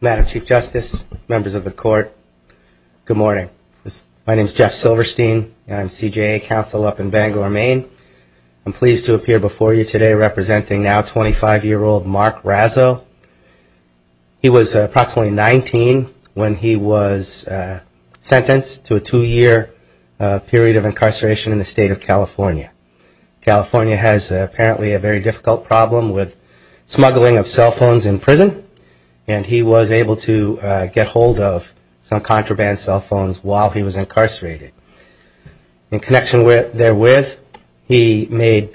Madam Chief Justice, members of the Court, good morning. My name is Jeff Silverstein and I'm CJA counsel up in Bangor, Maine. I'm pleased to appear before you today representing now 25-year-old Mark Razo. He was approximately 19 when he was sentenced to a two-year period of incarceration in the state of California. California has apparently a very difficult problem with smuggling of cell phones in prison and he was able to get hold of some contraband cell phones while he was incarcerated. In connection therewith, he made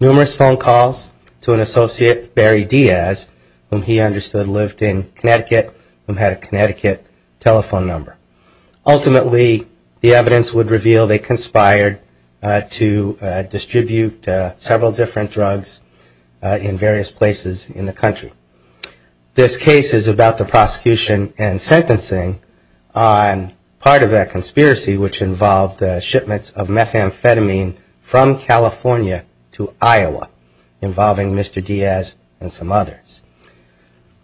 numerous phone calls to an associate, Barry Diaz, whom he understood lived in Connecticut and had a Connecticut telephone number. Ultimately, the evidence would reveal they conspired to distribute several different drugs in various places in the country. This case is about the prosecution and sentencing on part of that conspiracy which involved shipments of methamphetamine from California to Iowa involving Mr. Diaz and some others.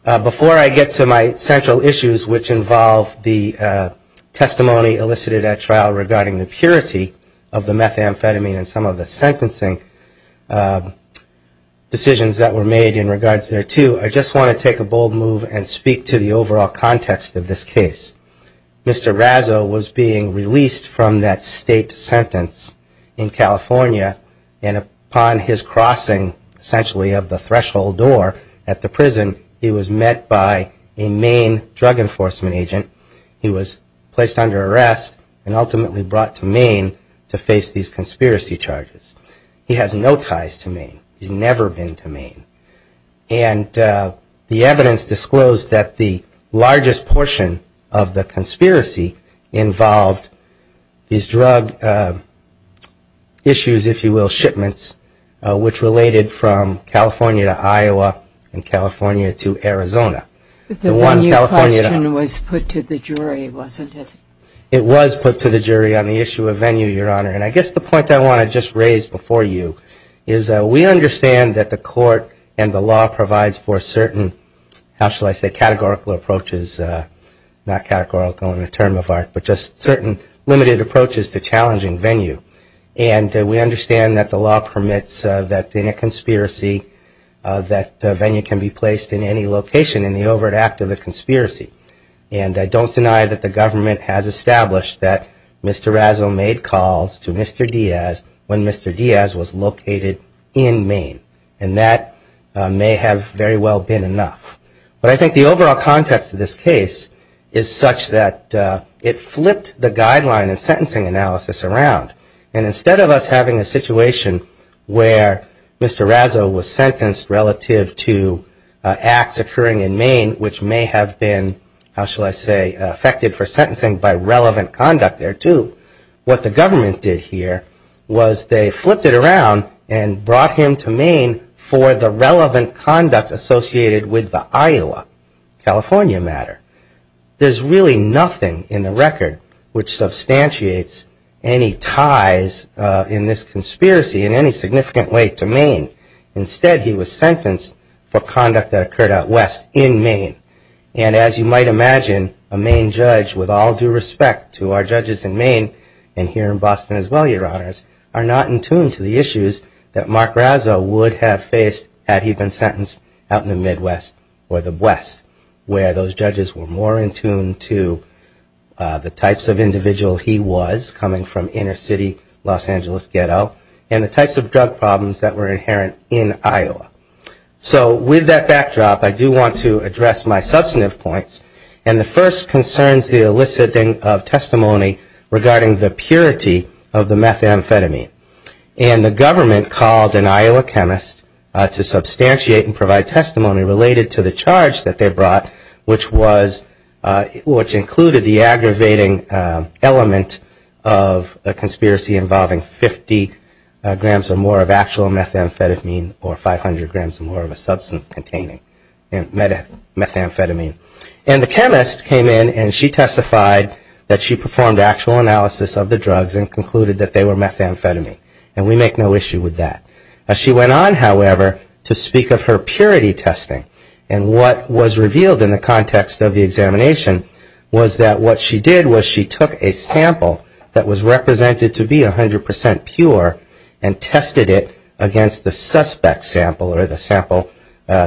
Before I get to my central issues which involve the testimony elicited at trial regarding the purity of the methamphetamine and some of the sentencing decisions that were made in regards thereto, I just want to take a bold move and speak to the overall context of this case. Mr. Razo was being released from that state sentence in California and upon his crossing essentially of the threshold door at the prison, he was met by a Maine drug enforcement agent. He was placed under arrest and ultimately brought to Maine to face these conspiracy charges. He has no ties to Maine. He's never been to Maine. And the evidence disclosed that the largest portion of the conspiracy involved these drug issues, if you will, shipments, which related from California to Iowa and California to Arizona. But the venue question was put to the jury, wasn't it? It was put to the jury on the issue of venue, Your Honor. And I guess the point I want to just raise before you is we understand that the court and the law provides for certain, how shall I say, categorical approaches, not categorical in the term of art, but just certain limited approaches to challenging venue. And we understand that the law permits that in a conspiracy, that venue can be placed in any location in the overt act of the conspiracy. And I don't deny that the government has established that Mr. Razo made calls to Mr. Diaz when Mr. Diaz was located in Maine. And that may have very well been enough. But I think the overall context of this case is such that it flipped the guideline and sentencing analysis around. And instead of us having a situation where Mr. Razo was sentenced relative to acts occurring in Maine, which may have been, how shall I say, affected for sentencing by relevant conduct thereto, what the government did here was they flipped it around and brought him to Maine for the relevant conduct associated with that. And that's not a matter of Iowa, California matter. There's really nothing in the record which substantiates any ties in this conspiracy in any significant way to Maine. Instead, he was sentenced for conduct that occurred out West in Maine. And as you might imagine, a Maine judge, with all due respect to our judges in Maine and here in Boston as well, Your Honors, are not in tune to the issues that Mark Razo would have faced had he been sentenced out in the Midwest. Or the West, where those judges were more in tune to the types of individual he was coming from inner city Los Angeles ghetto and the types of drug problems that were inherent in Iowa. So with that backdrop, I do want to address my substantive points. And the first concerns the eliciting of testimony regarding the purity of the methamphetamine. And the government called an Iowa chemist to substantiate and provide testimony related to the charge that they brought, which included the aggravating element of a conspiracy involving 50 grams or more of actual methamphetamine or 500 grams or more of a substance containing methamphetamine. And the chemist came in and she testified that she performed actual analysis of the drugs and concluded that they were methamphetamine. And we make no issue with that. She went on, however, to speak of her purity testing and what was revealed in the context of the examination was that what she did was she took a sample that was represented to be 100% pure and tested it against the suspect sample or the sample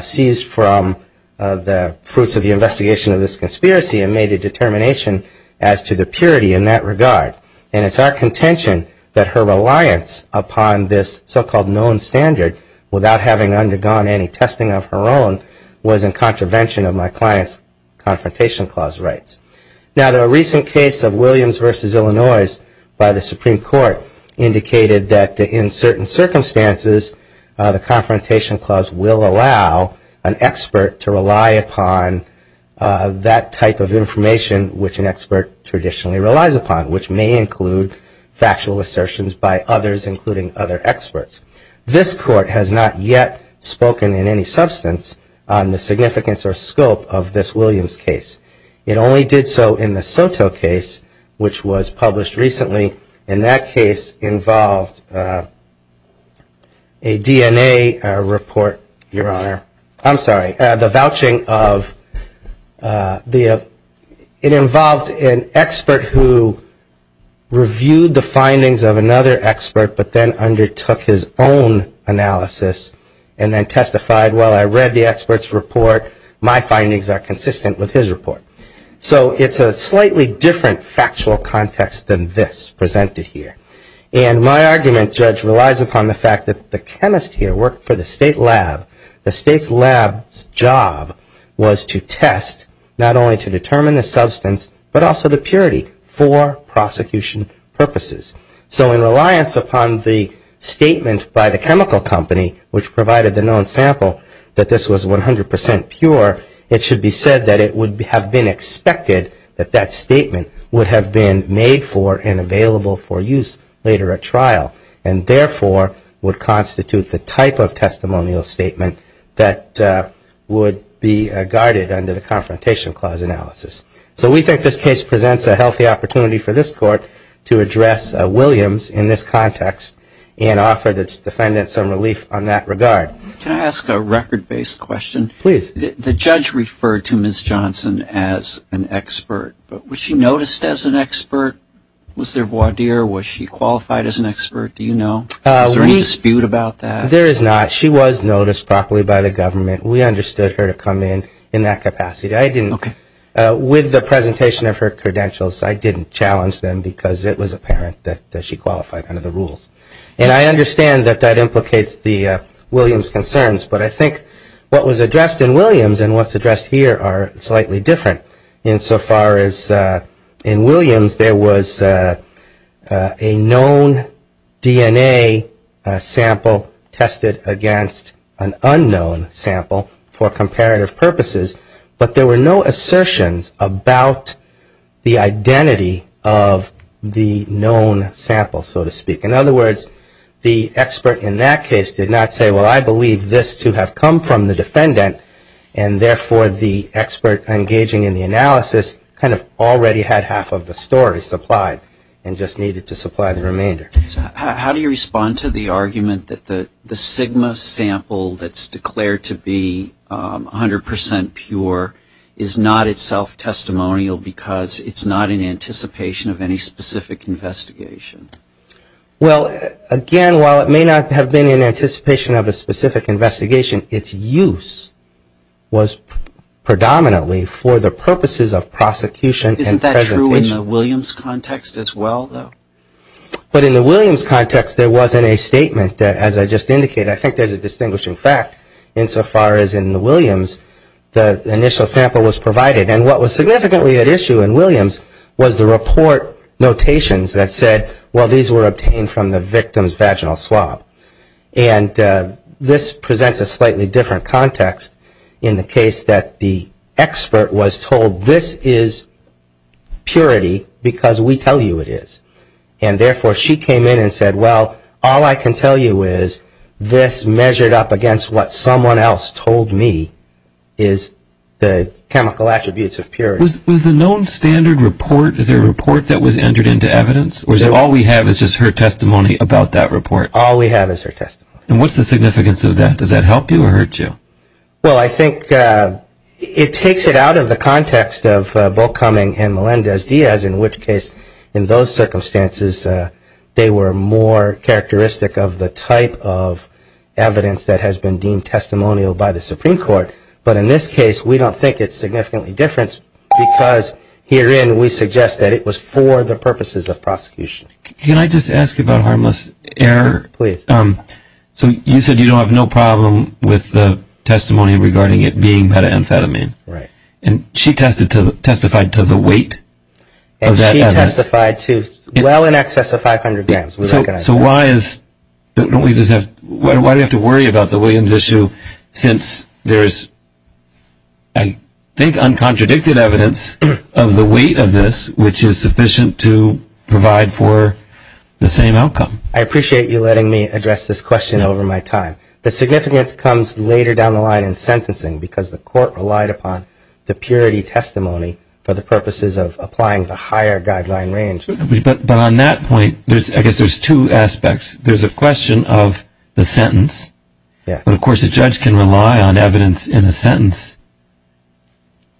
seized from the fruits of the investigation of this conspiracy and made a determination as to the purity in that regard. And it's our contention that her reliance upon this so-called known standard without having undergone any testing of her own was in contravention of my client's Confrontation Clause rights. Now, the recent case of Williams v. Illinois by the Supreme Court indicated that in certain circumstances, the Confrontation Clause will allow an expert to rely upon that type of information which an expert traditionally relies upon, which may include factual assertions by others, including other experts. This Court has not yet spoken in any substance on the significance or scope of this Williams case. It only did so in the Soto case, which was published recently. And that case involved a DNA report, Your Honor. I'm sorry, the vouching of the, it involved an expert who had a DNA sample of a certain substance. Reviewed the findings of another expert, but then undertook his own analysis and then testified, well, I read the expert's report. My findings are consistent with his report. So it's a slightly different factual context than this presented here. And my argument, Judge, relies upon the fact that the chemist here worked for the state lab. The state's lab's job was to test, not only to determine the substance, but also the purity for prosecution purposes. So in reliance upon the statement by the chemical company which provided the known sample that this was 100 percent pure, it should be said that it would have been expected that that statement would have been made for and available for use later at trial. And therefore, would constitute the type of testimonial statement that would be guarded under the Confrontation Clause analysis. So we think this case presents a healthy opportunity for this Court to address Williams in this context and offer the defendants some relief on that regard. Can I ask a record-based question? Please. The judge referred to Ms. Johnson as an expert. But was she noticed as an expert? Was there voir dire? Was she qualified as an expert? Do you know? Was there any dispute about that? There is not. She was noticed properly by the government. We understood her to come in in that capacity. With the presentation of her credentials, I didn't challenge them because it was apparent that she qualified under the rules. And I understand that that implicates the Williams concerns, but I think what was addressed in Williams and what's addressed here are slightly different. Insofar as in Williams, there was a known DNA sample tested against an unknown sample for comparative purposes, but there were no assertions about the identity of the known sample, so to speak. In other words, the expert in that case did not say, well, I believe this to have come from the defendant, and therefore the expert engaging in the analysis kind of already had half of the story supplied and just needed to supply the remainder. How do you respond to the argument that the Sigma sample that's declared to be 100 percent pure is not itself testimonial because it's not in anticipation of any specific investigation? Well, again, while it may not have been in anticipation of a specific investigation, its use was predominantly for the purposes of prosecution and presentation. Isn't that true in the Williams context as well, though? But in the Williams context, there wasn't a statement, as I just indicated. I think there's a distinguishing fact insofar as in the Williams, the initial sample was provided. And what was significantly at issue in Williams was the report notations that said, well, these were obtained from the victim's vaginal swab. And this presents a slightly different context in the case that the expert was told, this is purity because we tell you it is. And therefore, she came in and said, well, all I can tell you is this measured up against what someone else told me is the chemical attributes of the sample. Was the known standard report, is there a report that was entered into evidence? Or is it all we have is just her testimony about that report? All we have is her testimony. And what's the significance of that? Does that help you or hurt you? Well, I think it takes it out of the context of Bulkhoming and Melendez-Diaz, in which case in those circumstances, they were more characteristic of the type of evidence that has been deemed testimonial by the Supreme Court. But in this case, we don't think it's significantly different because herein we suggest that it was for the purposes of prosecution. Can I just ask about harmless error? I mean, she testified to her testimony regarding it being methamphetamine. Right. And she testified to the weight of that evidence. And she testified to well in excess of 500 grams. So why do we have to worry about the Williams issue since there is, I think, a higher guideline in sentencing because the court relied upon the purity testimony for the purposes of applying the higher guideline range? But on that point, I guess there's two aspects. There's a question of the sentence. But, of course, a judge can rely on evidence in a sentence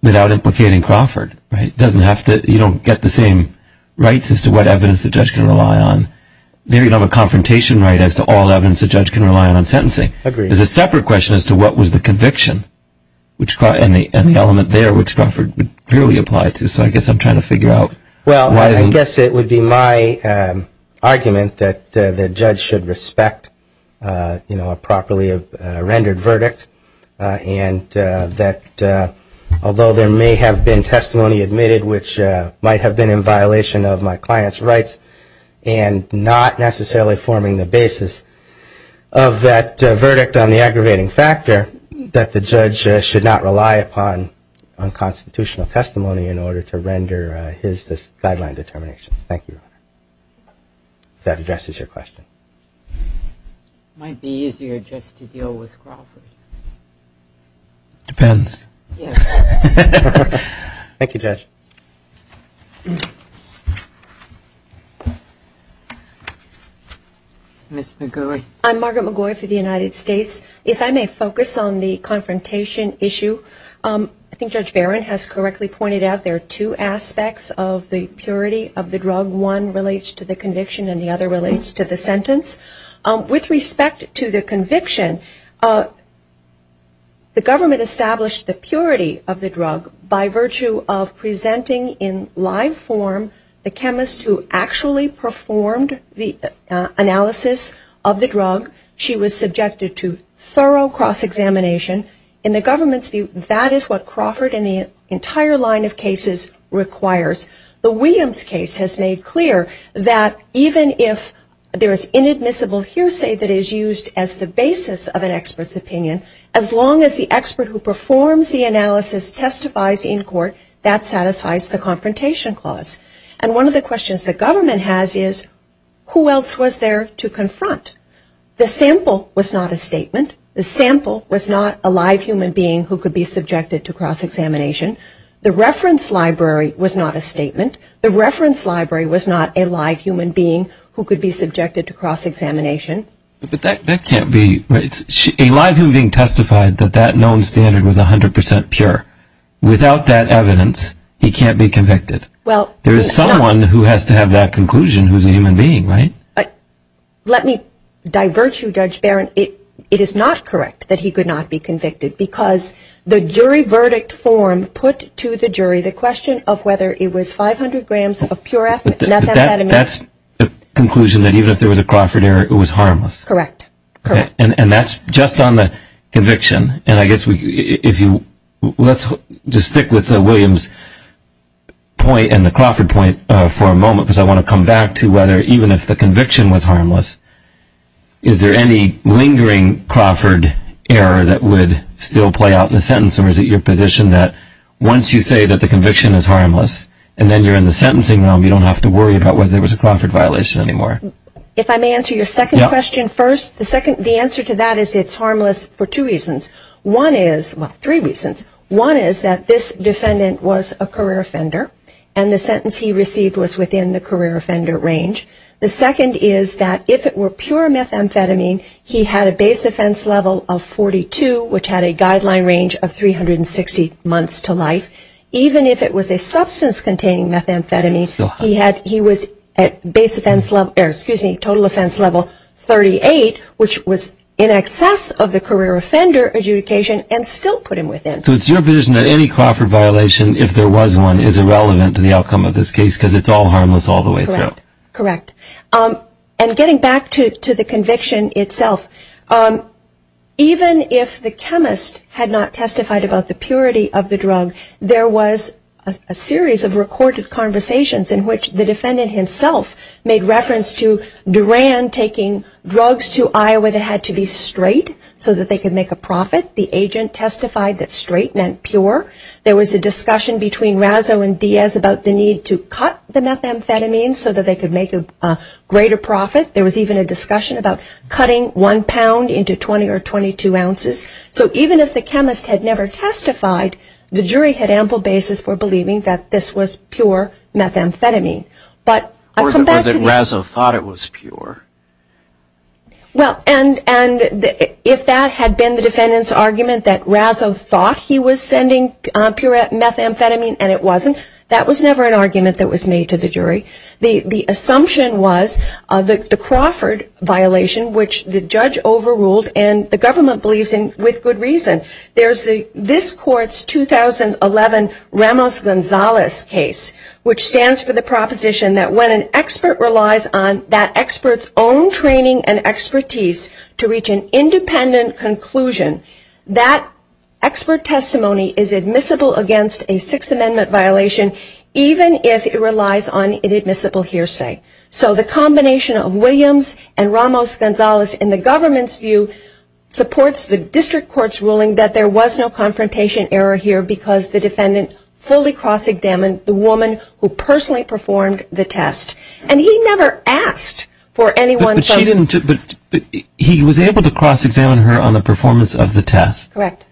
without implicating Crawford, right? You don't get the same rights as to what evidence the judge can rely on. There you don't have a confrontation right as to all evidence the judge can rely on in sentencing. There's a separate question as to what was the conviction and the element there which Crawford clearly applied to. So I guess I'm trying to figure out why. Well, I guess it would be my argument that the judge should respect a properly rendered verdict and that although there may have been an aggravating factor, that the judge should not rely upon unconstitutional testimony in order to render his guideline determinations. Thank you. That addresses your question. Might be easier just to deal with Crawford. Ms. McGoey. I'm Margaret McGoey for the United States. If I may focus on the confrontation issue. I think Judge Barron has correctly pointed out there are two aspects of the purity of the drug. One relates to the conviction and the other relates to the sentence. With respect to the conviction, the government established the purity of the drug by virtue of presenting in live form the chemist who actually performed the analysis of the drug. She was subjected to thorough cross-examination. In the government's view, that is what Crawford and the entire line of cases requires. The Williams case has made clear that even if there is inadmissible hearsay that is used as the basis of an expert's opinion, as long as the expert who performs the analysis testifies in court, that satisfies the confrontation clause. And one of the questions the government has is who else was there to confront? The sample was not a statement. The sample was not a live human being who could be subjected to cross-examination. The reference library was not a statement. The reference library was not a live human being who could be subjected to cross-examination. A live human being testified that that known standard was 100% pure. Without that evidence, he can't be convicted. There is someone who has to have that conclusion who is a human being, right? Let me diverge you, Judge Barron. It is not correct that he could not be convicted because the jury verdict form put to the jury the question of whether it was 500 grams of pure methamphetamine. That's the conclusion that even if there was a Crawford error, it was harmless. Correct. And that's just on the conviction. Let's just stick with the Williams point and the Crawford point for a moment, because I want to come back to whether even if the conviction was harmless, is there any lingering Crawford error that would still play out in the sentence, or is it your position that once you say that the conviction is harmless, and then you're in the sentencing realm, you don't have to worry about whether there was a Crawford violation anymore? If I may answer your second question first, the answer to that is it's harmless for two reasons. One is, well, three reasons. One is that this defendant was a career offender, and the sentence he received was within the career offender range. The second is that if it were pure methamphetamine, he had a base offense level of 42, which had a guideline range of 360 months to life. Even if it was a substance containing methamphetamine, he was at base offense level, or excuse me, total offense level 38, which was in excess of the career offender adjudication and still put him within. So it's your position that any Crawford violation, if there was one, is irrelevant to the outcome of this case because it's all harmless all the way through. Correct. And getting back to the conviction itself, even if the chemist had not testified about the purity of the drug, there was a series of recorded conversations in which the defendant himself made reference to Duran taking drugs to Iowa that had to be straight so that they could make a profit. The agent testified that straight meant pure. There was a discussion between Razzo and Diaz about the need to cut the methamphetamine so that they could make a greater profit. There was even a discussion about cutting one pound into 20 or 22 ounces. So even if the chemist had never testified, the jury had ample basis for believing that this was pure methamphetamine. Or that Razzo thought it was pure. Well, and if that had been the defendant's argument that Razzo thought he was sending pure methamphetamine and it wasn't, that was never an argument that was made to the jury. The assumption was the Crawford violation, which the judge overruled and the government believes in with good reason. There's this court's 2011 Ramos-Gonzalez case, which stands for the proposition that when an expert relies on that expert's own training and expertise to reach an independent conclusion, that expert testimony is admissible against a Sixth Amendment violation, even if it relies on an admissible hearsay. So the combination of Williams and Ramos-Gonzalez in the government's view supports the district court's ruling that there was no confrontation error here because the defendant fully cross-examined the woman who personally performed the test. And he never asked for anyone to... But he was able to cross-examine her on the performance of the test. Correct.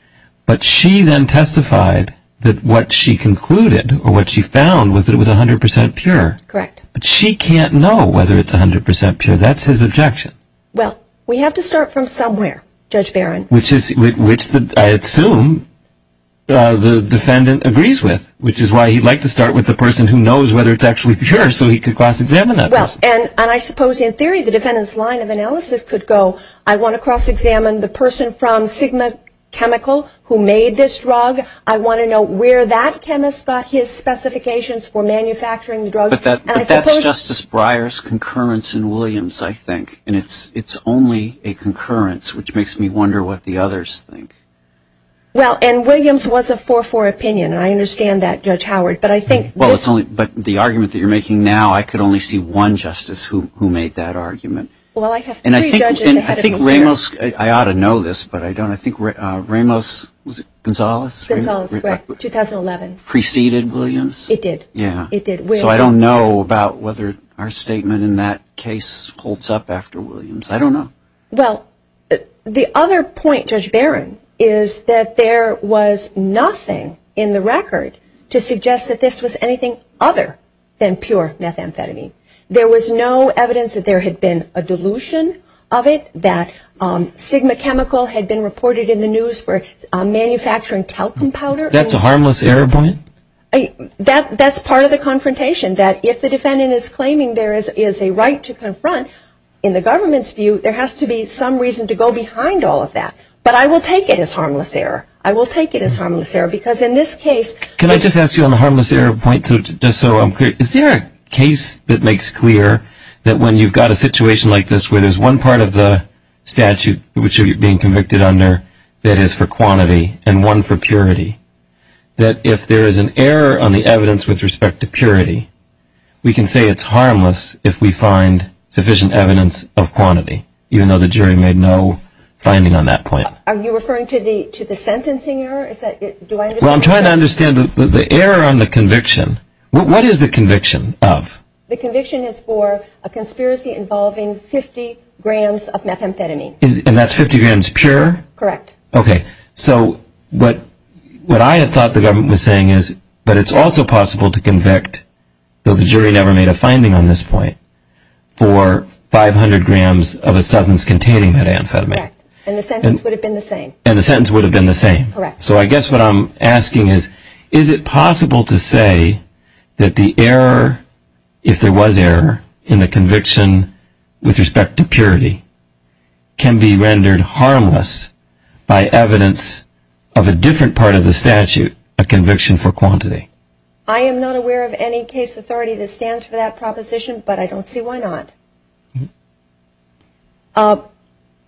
But she then testified that what she concluded or what she found was that it was 100% pure. Correct. But she can't know whether it's 100% pure. That's his objection. Well, we have to start from somewhere, Judge Barron. Which I assume the defendant agrees with, which is why he'd like to start with the person who knows whether it's actually pure so he could cross-examine that person. And I suppose in theory the defendant's line of analysis could go, I want to cross-examine the person from Sigma Chemical who made this drug. I want to know where that chemist got his specifications for manufacturing the drug. But that's Justice Breyer's concurrence in Williams, I think. And it's only a concurrence, which makes me wonder what the others think. Well, and Williams was a 4-4 opinion, and I understand that, Judge Howard. But the argument that you're making now, I could only see one justice who made that argument. Well, I have three judges ahead of me here. And I think Ramos, I ought to know this, but I don't. I think Ramos, was it Gonzales? Gonzales, correct, 2011. Preceded Williams? It did. Yeah. So I don't know about whether our statement in that case holds up after Williams. I don't know. Well, the other point, Judge Barron, is that there was nothing in the record to suggest that this was anything other than pure methamphetamine. There was no evidence that there had been a dilution of it, that Sigma chemical had been reported in the news for manufacturing talcum powder. That's a harmless error point? That's part of the confrontation, that if the defendant is claiming there is a right to confront, in the government's view, there has to be some reason to go behind all of that. But I will take it as harmless error. I will take it as harmless error, because in this case – Can I just ask you on the harmless error point, just so I'm clear? Is there a case that makes clear that when you've got a situation like this where there's one part of the statute which you're being convicted under that is for quantity and one for purity, that if there is an error on the evidence with respect to purity, we can say it's harmless if we find sufficient evidence of quantity, even though the jury made no finding on that point? Are you referring to the sentencing error? Well, I'm trying to understand the error on the conviction. What is the conviction of? The conviction is for a conspiracy involving 50 grams of methamphetamine. And that's 50 grams pure? Correct. Okay. So what I had thought the government was saying is, but it's also possible to convict, though the jury never made a finding on this point, for 500 grams of a substance containing methamphetamine. Correct. And the sentence would have been the same. And the sentence would have been the same. Correct. So I guess what I'm asking is, is it possible to say that the error, if there was error in the conviction with respect to purity, can be rendered harmless by evidence of a different part of the statute, a conviction for quantity? I am not aware of any case authority that stands for that proposition, but I don't see why not.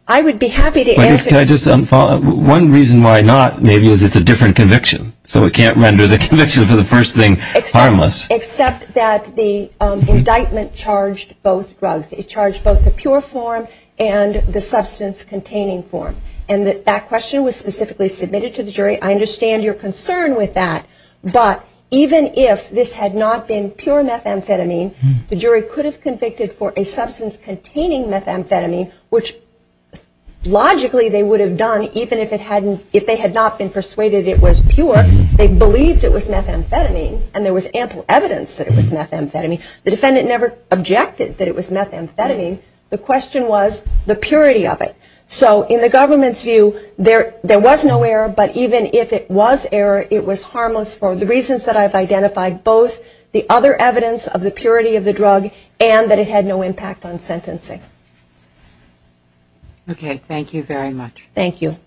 I would be happy to answer. One reason why not, maybe, is it's a different conviction. So it can't render the conviction for the first thing harmless. Except that the indictment charged both drugs. It charged both the pure form and the substance-containing form. And that question was specifically submitted to the jury. I understand your concern with that. But even if this had not been pure methamphetamine, the jury could have convicted for a substance-containing methamphetamine, which logically they would have done even if they had not been persuaded it was pure. They believed it was methamphetamine, and there was ample evidence that it was methamphetamine. The defendant never objected that it was methamphetamine. The question was the purity of it. So in the government's view, there was no error, but even if it was error, it was harmless for the reasons that I've identified, both the other evidence of the purity of the drug and that it had no impact on sentencing. Okay. Thank you very much. Thank you.